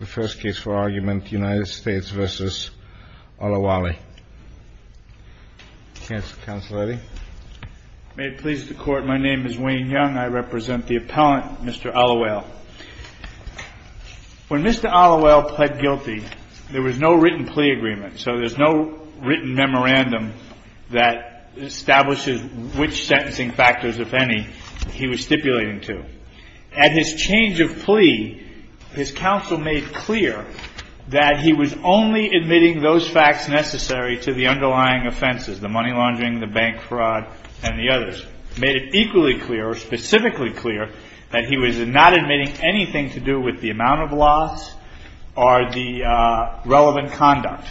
May it please the Court, my name is Wayne Young. I represent the appellant, Mr. Olawale. When Mr. Olawale pled guilty, there was no written plea agreement, so there's no written memorandum that establishes which sentencing factors, if any, he was stipulating to. At his change of plea, his counsel made clear that he was only admitting those facts necessary to the underlying offenses, the money laundering, the bank fraud, and the others. He made it equally clear, or specifically clear, that he was not admitting anything to do with the amount of loss or the relevant conduct.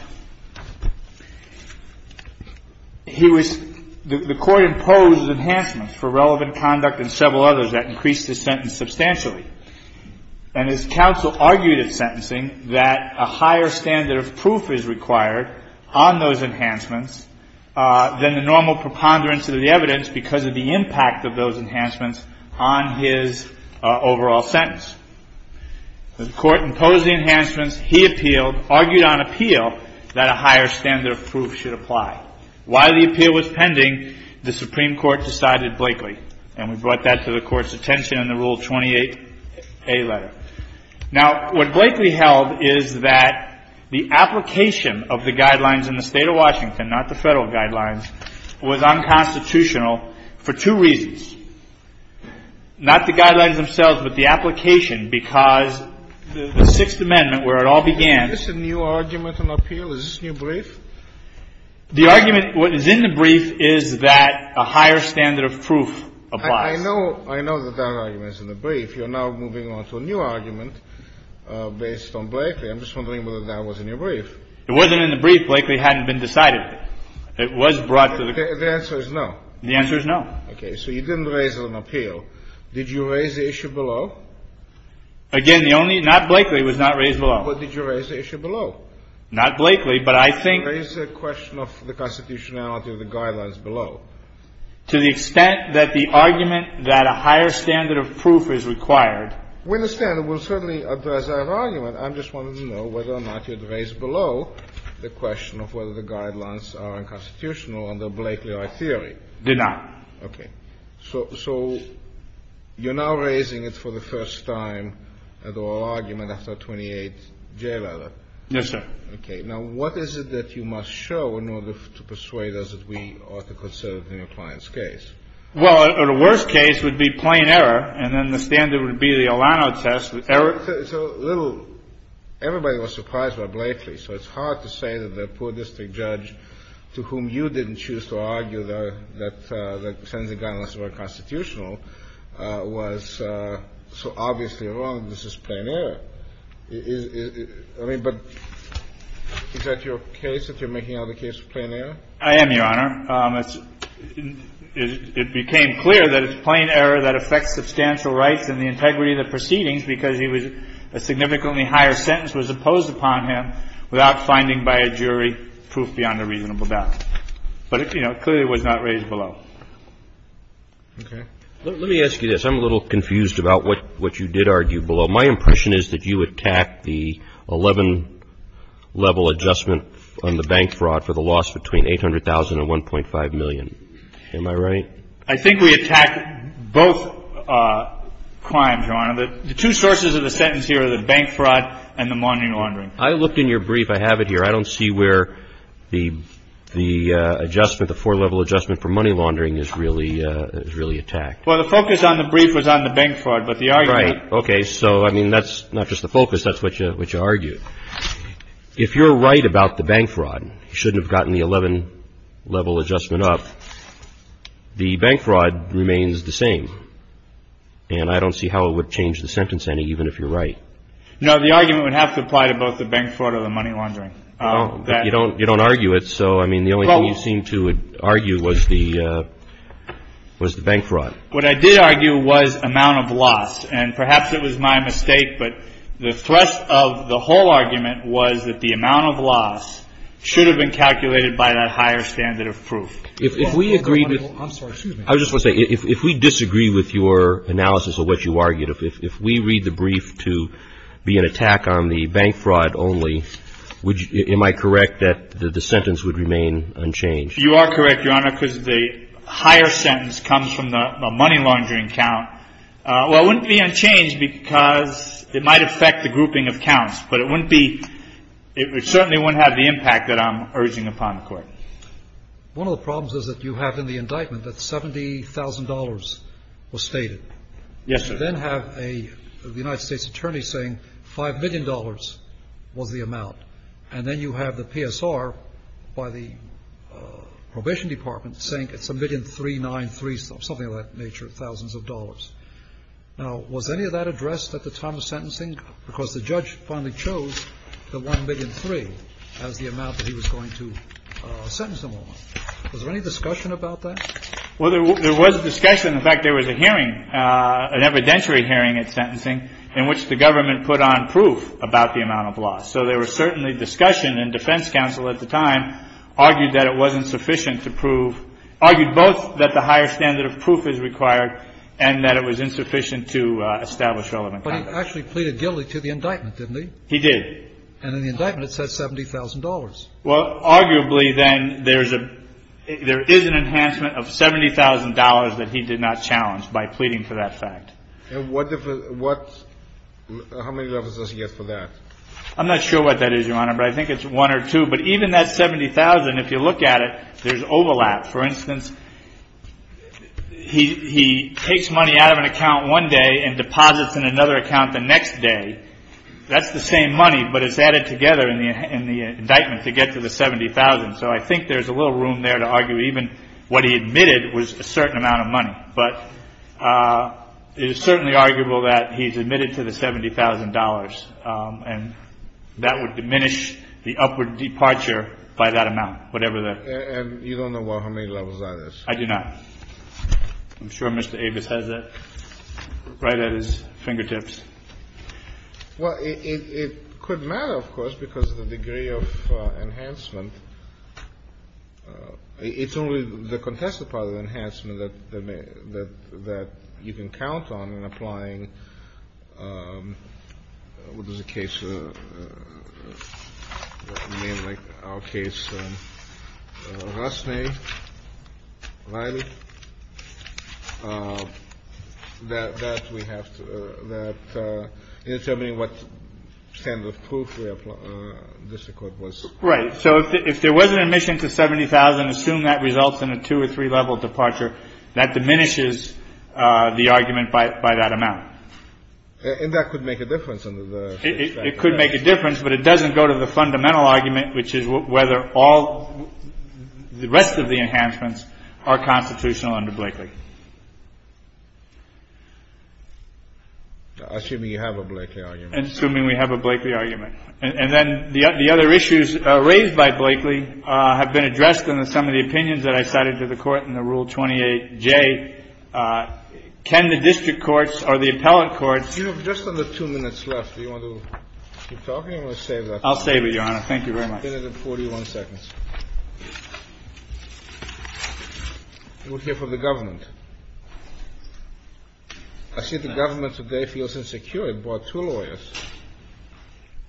He was – the Court imposed enhancements for relevant conduct and several others that increased his sentence substantially. And his counsel argued in sentencing that a higher standard of proof is required on those enhancements than the normal preponderance of the evidence because of the impact of those enhancements on his overall sentence. The Court imposed the enhancements. He appealed – argued on appeal that a higher standard of proof should apply. While the appeal was pending, the Supreme Court decided Blakely, and we brought that to the Court's attention in the Rule 28a letter. Now, what Blakely held is that the application of the guidelines in the State of Washington, not the Federal guidelines, was unconstitutional for two reasons. Not the guidelines themselves, but the application, because the Sixth Amendment, where it all began – Is this a new argument on appeal? Is this new brief? The argument – what is in the brief is that a higher standard of proof applies. I know – I know that that argument is in the brief. You're now moving on to a new argument based on Blakely. I'm just wondering whether that was in your brief. It wasn't in the brief. Blakely hadn't been decided. It was brought to the – The answer is no. The answer is no. Okay. So you didn't raise it on appeal. Did you raise the issue below? Again, the only – not Blakely was not raised below. But did you raise the issue below? Not Blakely, but I think – You raised the question of the constitutionality of the guidelines below. To the extent that the argument that a higher standard of proof is required – We understand. We'll certainly address that argument. I just wanted to know whether or not you had raised below the question of whether the guidelines are unconstitutional under Blakely or theory. Did not. Okay. So – so you're now raising it for the first time at oral argument after a 28-J letter. Yes, sir. Okay. Now, what is it that you must show in order to persuade us that we ought to consider it in a client's case? Well, the worst case would be plain error, and then the standard would be the Olano test. Everybody was surprised by Blakely. So it's hard to say that the poor district judge to whom you didn't choose to argue that the sentencing guidelines were unconstitutional was so obviously wrong. This is plain error. I mean, but is that your case, that you're making out a case of plain error? I am, Your Honor. It became clear that it's plain error that affects substantial rights and the integrity of the proceedings because he was – a significantly higher sentence was imposed upon him without finding by a jury proof beyond a reasonable doubt. But, you know, clearly it was not raised below. Okay. Let me ask you this. I'm a little confused about what you did argue below. My impression is that you attacked the 11-level adjustment on the bank fraud for the loss between $800,000 and $1.5 million. Am I right? I think we attacked both crimes, Your Honor. The two sources of the sentence here are the bank fraud and the money laundering. I looked in your brief. I have it here. I don't see where the adjustment, the four-level adjustment for money laundering is really attacked. Well, the focus on the brief was on the bank fraud, but the argument – Okay. So, I mean, that's not just the focus. That's what you argued. If you're right about the bank fraud, you shouldn't have gotten the 11-level adjustment up. The bank fraud remains the same, and I don't see how it would change the sentence any, even if you're right. No, the argument would have to apply to both the bank fraud or the money laundering. But you don't argue it, so, I mean, the only thing you seem to argue was the bank fraud. What I did argue was amount of loss. And perhaps it was my mistake, but the thrust of the whole argument was that the amount of loss should have been calculated by that higher standard of proof. If we agree with – I'm sorry. Excuse me. I just want to say, if we disagree with your analysis of what you argued, if we read the brief to be an attack on the bank fraud only, am I correct that the sentence would remain unchanged? If you are correct, Your Honor, because the higher sentence comes from the money laundering count, well, it wouldn't be unchanged because it might affect the grouping of counts. But it wouldn't be – it certainly wouldn't have the impact that I'm urging upon the Court. One of the problems is that you have in the indictment that $70,000 was stated. Yes, sir. You then have a – the United States Attorney saying $5 million was the amount. And then you have the PSR by the probation department saying it's $1,000,393, something of that nature, thousands of dollars. Now, was any of that addressed at the time of sentencing? Because the judge finally chose the $1,000,003 as the amount that he was going to sentence him on. Was there any discussion about that? Well, there was a discussion. In fact, there was a hearing, an evidentiary hearing at sentencing in which the government put on proof about the amount of loss. So there was certainly discussion. And defense counsel at the time argued that it wasn't sufficient to prove – argued both that the higher standard of proof is required and that it was insufficient to establish relevant context. But he actually pleaded guilty to the indictment, didn't he? He did. And in the indictment it says $70,000. Well, arguably, then, there is a – there is an enhancement of $70,000 that he did not challenge by pleading for that fact. And what – how many levels does he get for that? I'm not sure what that is, Your Honor, but I think it's one or two. But even that $70,000, if you look at it, there's overlap. For instance, he takes money out of an account one day and deposits it in another account the next day. That's the same money, but it's added together in the indictment to get to the $70,000. So I think there's a little room there to argue even what he admitted was a certain amount of money. But it is certainly arguable that he's admitted to the $70,000, and that would diminish the upward departure by that amount, whatever the – And you don't know how many levels that is? I do not. I'm sure Mr. Avis has that right at his fingertips. Well, it could matter, of course, because of the degree of enhancement. It's only the contested part of the enhancement that you can count on in applying – what is the case? I mean, like our case, Rusney, Riley. That we have to – that in determining what standard of proof we apply, just the court was – if there was an admission to $70,000, assume that results in a two- or three-level departure, that diminishes the argument by that amount. And that could make a difference under the – It could make a difference, but it doesn't go to the fundamental argument, which is whether all the rest of the enhancements are constitutional under Blakeley. Assuming you have a Blakeley argument. Assuming we have a Blakeley argument. And then the other issues raised by Blakeley have been addressed in some of the opinions that I cited to the Court in the Rule 28J. Can the district courts or the appellate courts – You have just under two minutes left. Do you want to keep talking or save that? I'll save it, Your Honor. Thank you very much. You'll get it in 41 seconds. We'll hear from the government. I see the government today feels insecure. It brought two lawyers.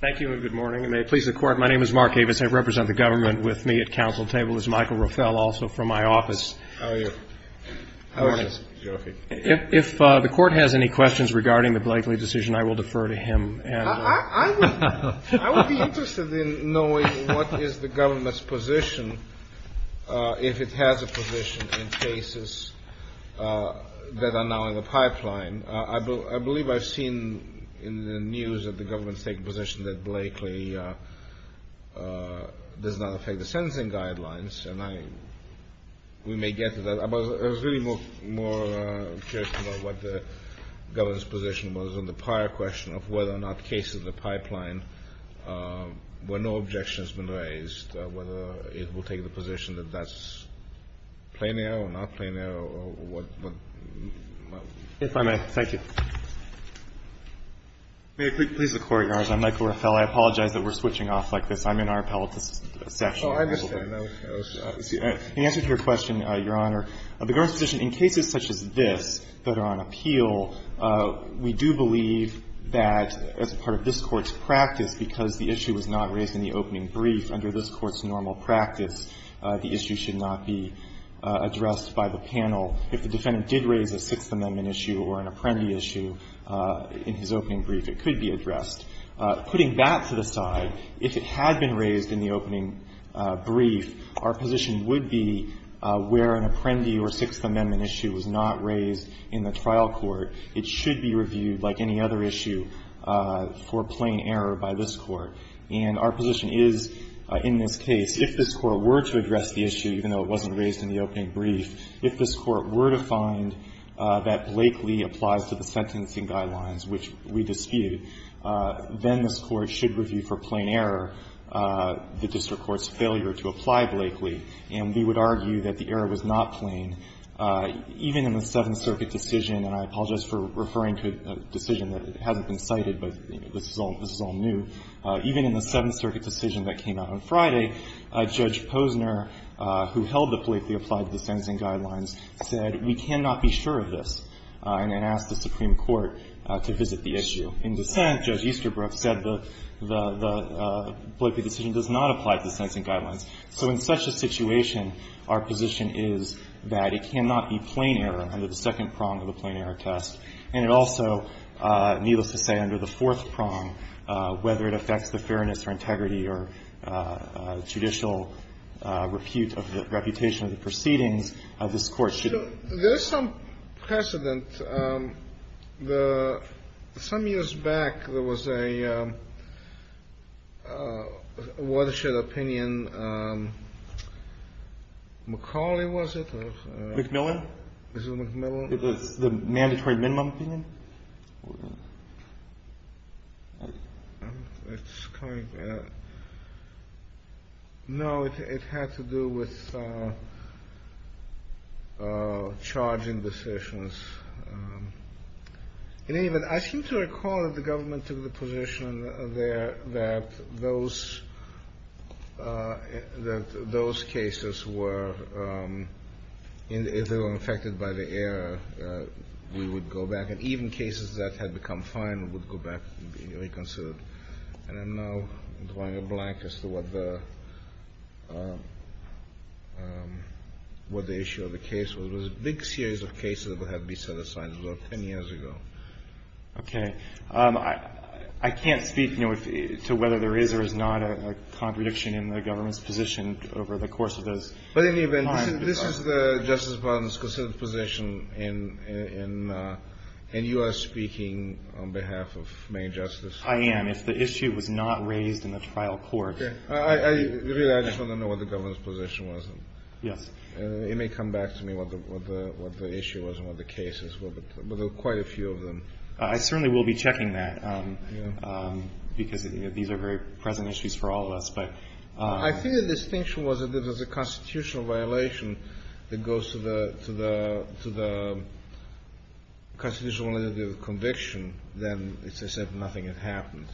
Thank you, and good morning. And may it please the Court, my name is Mark Avis. I represent the government with me at council table. This is Michael Rafael, also from my office. How are you? How is this? If the Court has any questions regarding the Blakeley decision, I will defer to him. I would be interested in knowing what is the government's position if it has a position in cases that are now in the pipeline. I believe I've seen in the news that the government has taken a position that Blakeley does not affect the sentencing guidelines, and we may get to that, but I was really more curious about what the government's position was on the prior question of whether or not cases in the pipeline, where no objection has been raised, whether it will take the position that that's plenary or not plenary. If I may, thank you. May it please the Court, Your Honor, I'm Michael Rafael. I apologize that we're switching off like this. I'm in our appellate session. Oh, I understand. The answer to your question, Your Honor, the government's position in cases such as this that are on appeal, we do believe that as part of this Court's practice, because the issue was not raised in the opening brief, under this Court's normal practice, the issue should not be addressed by the panel. If the defendant did raise a Sixth Amendment issue or an Apprendi issue in his opening brief, it could be addressed. Putting that to the side, if it had been raised in the opening brief, our position would be where an Apprendi or Sixth Amendment issue was not raised in the trial court, it should be reviewed like any other issue for plain error by this Court. And our position is in this case, if this Court were to address the issue, even though it wasn't raised in the opening brief, if this Court were to find that Blakeley applies to the sentencing guidelines which we dispute, then this Court should review for plain error the district court's failure to apply Blakeley. And we would argue that the error was not plain, even in the Seventh Circuit decision, and I apologize for referring to a decision that hasn't been cited, but this is all new, even in the Seventh Circuit decision that came out on Friday, Judge Posner, who held that Blakeley applied to the sentencing guidelines, said we cannot be sure of this, and asked the Supreme Court to visit the issue. In dissent, Judge Easterbrook said the Blakeley decision does not apply to the sentencing guidelines. So in such a situation, our position is that it cannot be plain error under the second prong of the plain error test, and it also, needless to say, under the fourth prong whether it affects the fairness or integrity or judicial repute of the reputation of the proceedings, this Court should. Kennedy. So there's some precedent. Some years back, there was a watershed opinion. McCauley, was it? McMillan. Was it McMillan? The mandatory minimum opinion? No, it had to do with charging decisions. In any event, I seem to recall that the government took the position there that those cases that had become final would go back and be reconsidered. And I'm now drawing a blank as to what the issue of the case was. It was a big series of cases that would have been set aside about 10 years ago. Okay. I can't speak, you know, to whether there is or is not a contradiction in the government's position over the course of those times. But in any event, this is the Justice Department's position, and you are speaking on behalf of Main Justice. I am. If the issue was not raised in the trial court. Okay. Really, I just want to know what the government's position was. Yes. It may come back to me what the issue was and what the cases were, but there were quite a few of them. I certainly will be checking that, because these are very present issues for all of us. I think the distinction was that if it was a constitutional violation that goes to the constitutional only to the conviction, then as I said, nothing had happened.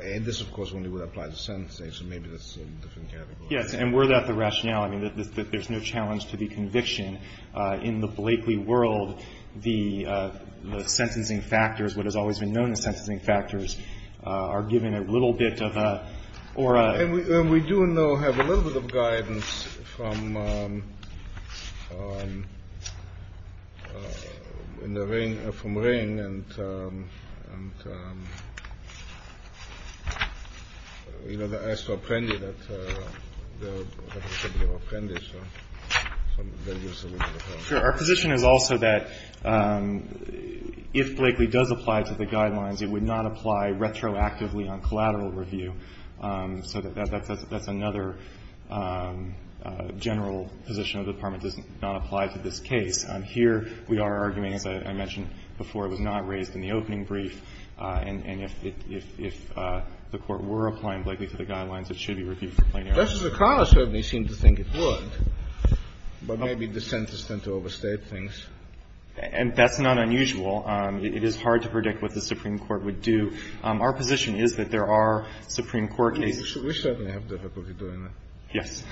And this, of course, only would apply to sentencing, so maybe that's a different category. Yes. And were that the rationale, I mean, there's no challenge to the conviction. In the Blakely world, the sentencing factors, what has always been known as sentencing factors, are given a little bit of a, or a. And we do know, have a little bit of guidance from, in the ring, from Ring, and, you know, they asked to apprendi that, that they should be apprendished. So that is a little bit of a. Our position is also that if Blakely does apply to the guidelines, it would not apply retroactively on collateral review. So that's another general position of the Department, does not apply to this case. Here, we are arguing, as I mentioned before, it was not raised in the opening brief, and if the Court were applying Blakely to the guidelines, it should be reviewed for plain error. Kennedy. Well, Justice O'Connor certainly seemed to think it would. But maybe dissenters tend to overstate things. And that's not unusual. It is hard to predict what the Supreme Court would do. Our position is that there are Supreme Court cases. We certainly have difficulty doing that. Yes.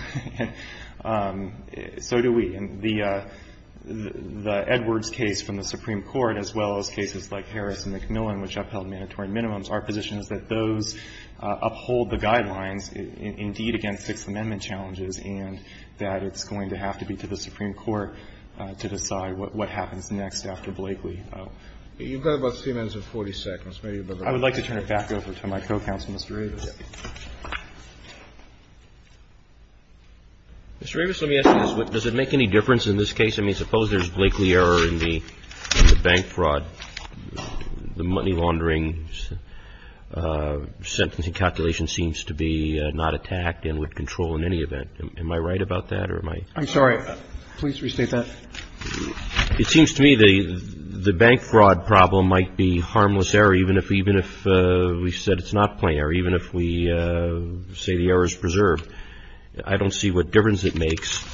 So do we. And the Edwards case from the Supreme Court, as well as cases like Harris and McMillan, which upheld mandatory minimums, our position is that those uphold the guidelines indeed against Sixth Amendment challenges, and that it's going to have to be to the Supreme Court to decide what happens next after Blakely. You've got about 3 minutes and 40 seconds. I would like to turn it back over to my co-counsel, Mr. Avis. Mr. Avis, let me ask you this. Does it make any difference in this case? I mean, suppose there's Blakely error in the bank fraud, the money laundering calculation seems to be not attacked and with control in any event. Am I right about that, or am I? I'm sorry. Please restate that. It seems to me the bank fraud problem might be harmless error, even if we said it's not plain error, even if we say the error is preserved. I don't see what difference it makes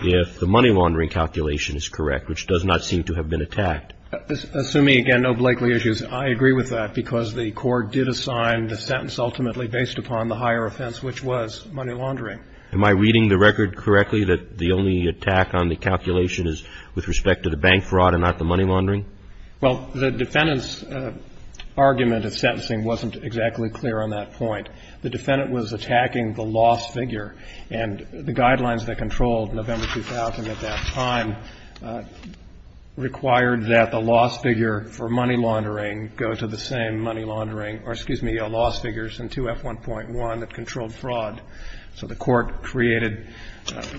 if the money laundering calculation is correct, which does not seem to have been attacked. Assuming, again, no Blakely issues, I agree with that because the court did assign the sentence ultimately based upon the higher offense, which was money laundering. Am I reading the record correctly that the only attack on the calculation is with respect to the bank fraud and not the money laundering? Well, the defendant's argument of sentencing wasn't exactly clear on that point. The defendant was attacking the loss figure, and the guidelines that controlled November 2000 at that time required that the loss figure for money laundering go to the same money laundering or, excuse me, loss figures in 2F1.1 that controlled fraud. So the court created,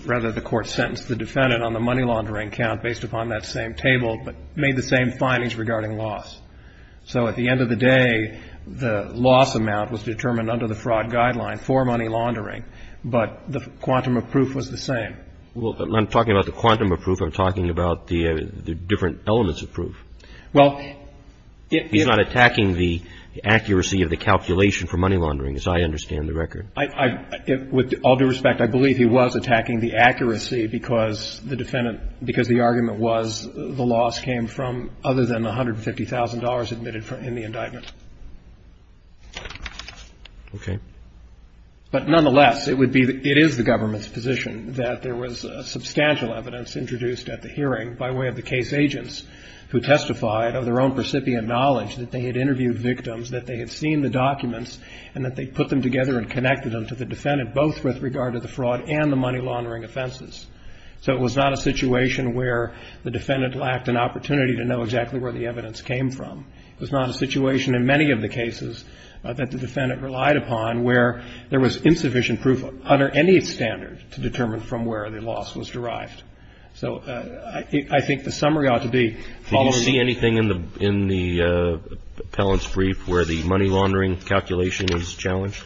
rather the court sentenced the defendant on the money laundering count based upon that same table, but made the same findings regarding loss. So at the end of the day, the loss amount was determined under the fraud guideline for money laundering, but the quantum of proof was the same. Well, I'm talking about the quantum of proof. I'm talking about the different elements of proof. Well, if he's not attacking the accuracy of the calculation for money laundering, as I understand the record. With all due respect, I believe he was attacking the accuracy because the defendant because the argument was the loss came from other than $150,000 admitted in the indictment. Okay. But nonetheless, it is the government's position that there was substantial evidence introduced at the hearing by way of the case agents who testified of their own recipient knowledge that they had interviewed victims, that they had seen the documents, and that they put them together and connected them to the defendant, both with regard to the fraud and the money laundering offenses. So it was not a situation where the defendant lacked an opportunity to know exactly where the evidence came from. It was not a situation in many of the cases that the defendant relied upon where there was insufficient proof under any standard to determine from where the loss was derived. So I think the summary ought to be following. Did you see anything in the appellant's brief where the money laundering calculation is challenged?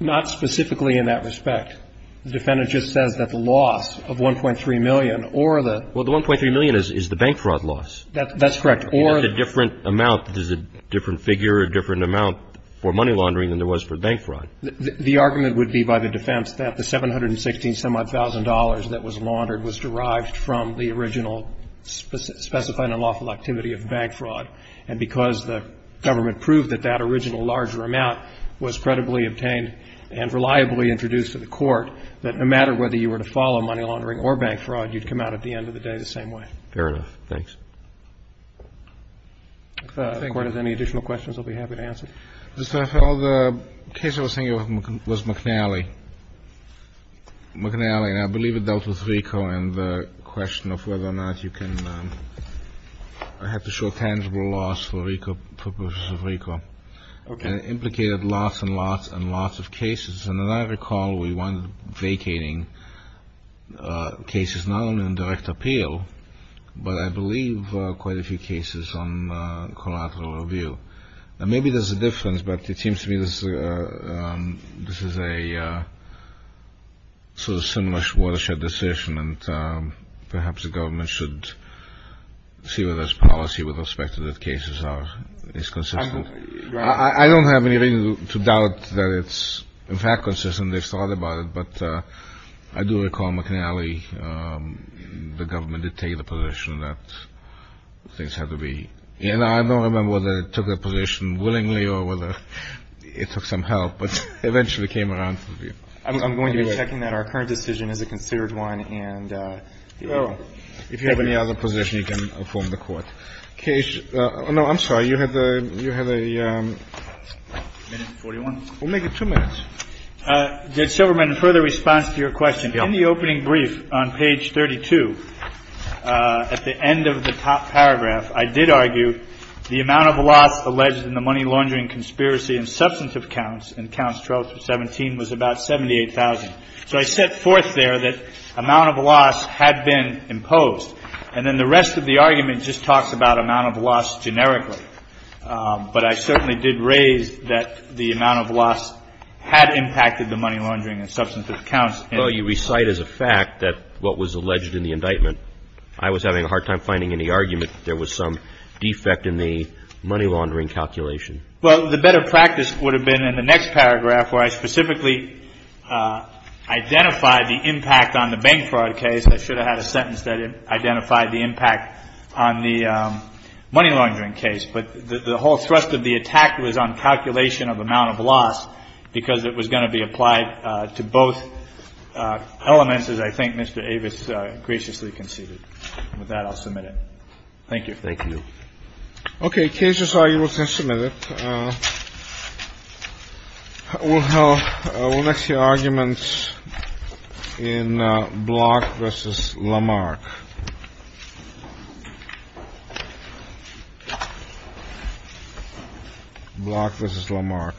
Not specifically in that respect. The defendant just says that the loss of $1.3 million or the. Well, the $1.3 million is the bank fraud loss. That's correct. That's a different amount. There's a different figure, a different amount for money laundering than there was for bank fraud. The argument would be by the defense that the $716,000 that was laundered was derived from the original specified unlawful activity of bank fraud. And because the government proved that that original larger amount was credibly obtained and reliably introduced to the Court, that no matter whether you were to follow money laundering or bank fraud, you'd come out at the end of the day the same way. Fair enough. Thanks. If the Court has any additional questions, I'll be happy to answer. Mr. Farrell, the case I was thinking of was McNally. McNally. And I believe it dealt with RICO and the question of whether or not you can have to show tangible loss for RICO, purposes of RICO. And it implicated lots and lots and lots of cases. And I recall we won vacating cases not only in direct appeal, but I believe quite a few cases on collateral review. And maybe there's a difference, but it seems to me this is a sort of similar watershed decision, and perhaps the government should see whether its policy with respect to the cases is consistent. I don't have any reason to doubt that it's, in fact, consistent. They've thought about it. But I do recall McNally, the government did take the position that things had to be. And I don't remember whether it took that position willingly or whether it took some help, but it eventually came around. I'm going to be checking that our current decision is a considered one. And if you have any other position, you can inform the Court. Okay. Oh, no, I'm sorry. You have a minute and 41. We'll make it two minutes. Did Silverman, in further response to your question, in the opening brief on page 32, at the end of the top paragraph, I did argue the amount of loss alleged in the money laundering conspiracy and substantive counts in counts 12 through 17 was about 78,000. So I set forth there that amount of loss had been imposed. And then the rest of the argument just talks about amount of loss generically. But I certainly did raise that the amount of loss had impacted the money laundering and substantive counts. Well, you recite as a fact that what was alleged in the indictment. I was having a hard time finding any argument that there was some defect in the money laundering calculation. Well, the better practice would have been in the next paragraph where I specifically identified the impact on the bank fraud case. I should have had a sentence that identified the impact on the money laundering case. But the whole thrust of the attack was on calculation of amount of loss because it was going to be applied to both elements, as I think Mr. Avis graciously conceded. With that, I'll submit it. Thank you. Thank you. Okay. Cases are you will test a minute. Well, I will let you arguments in block versus Lamarck. Block versus Lamarck.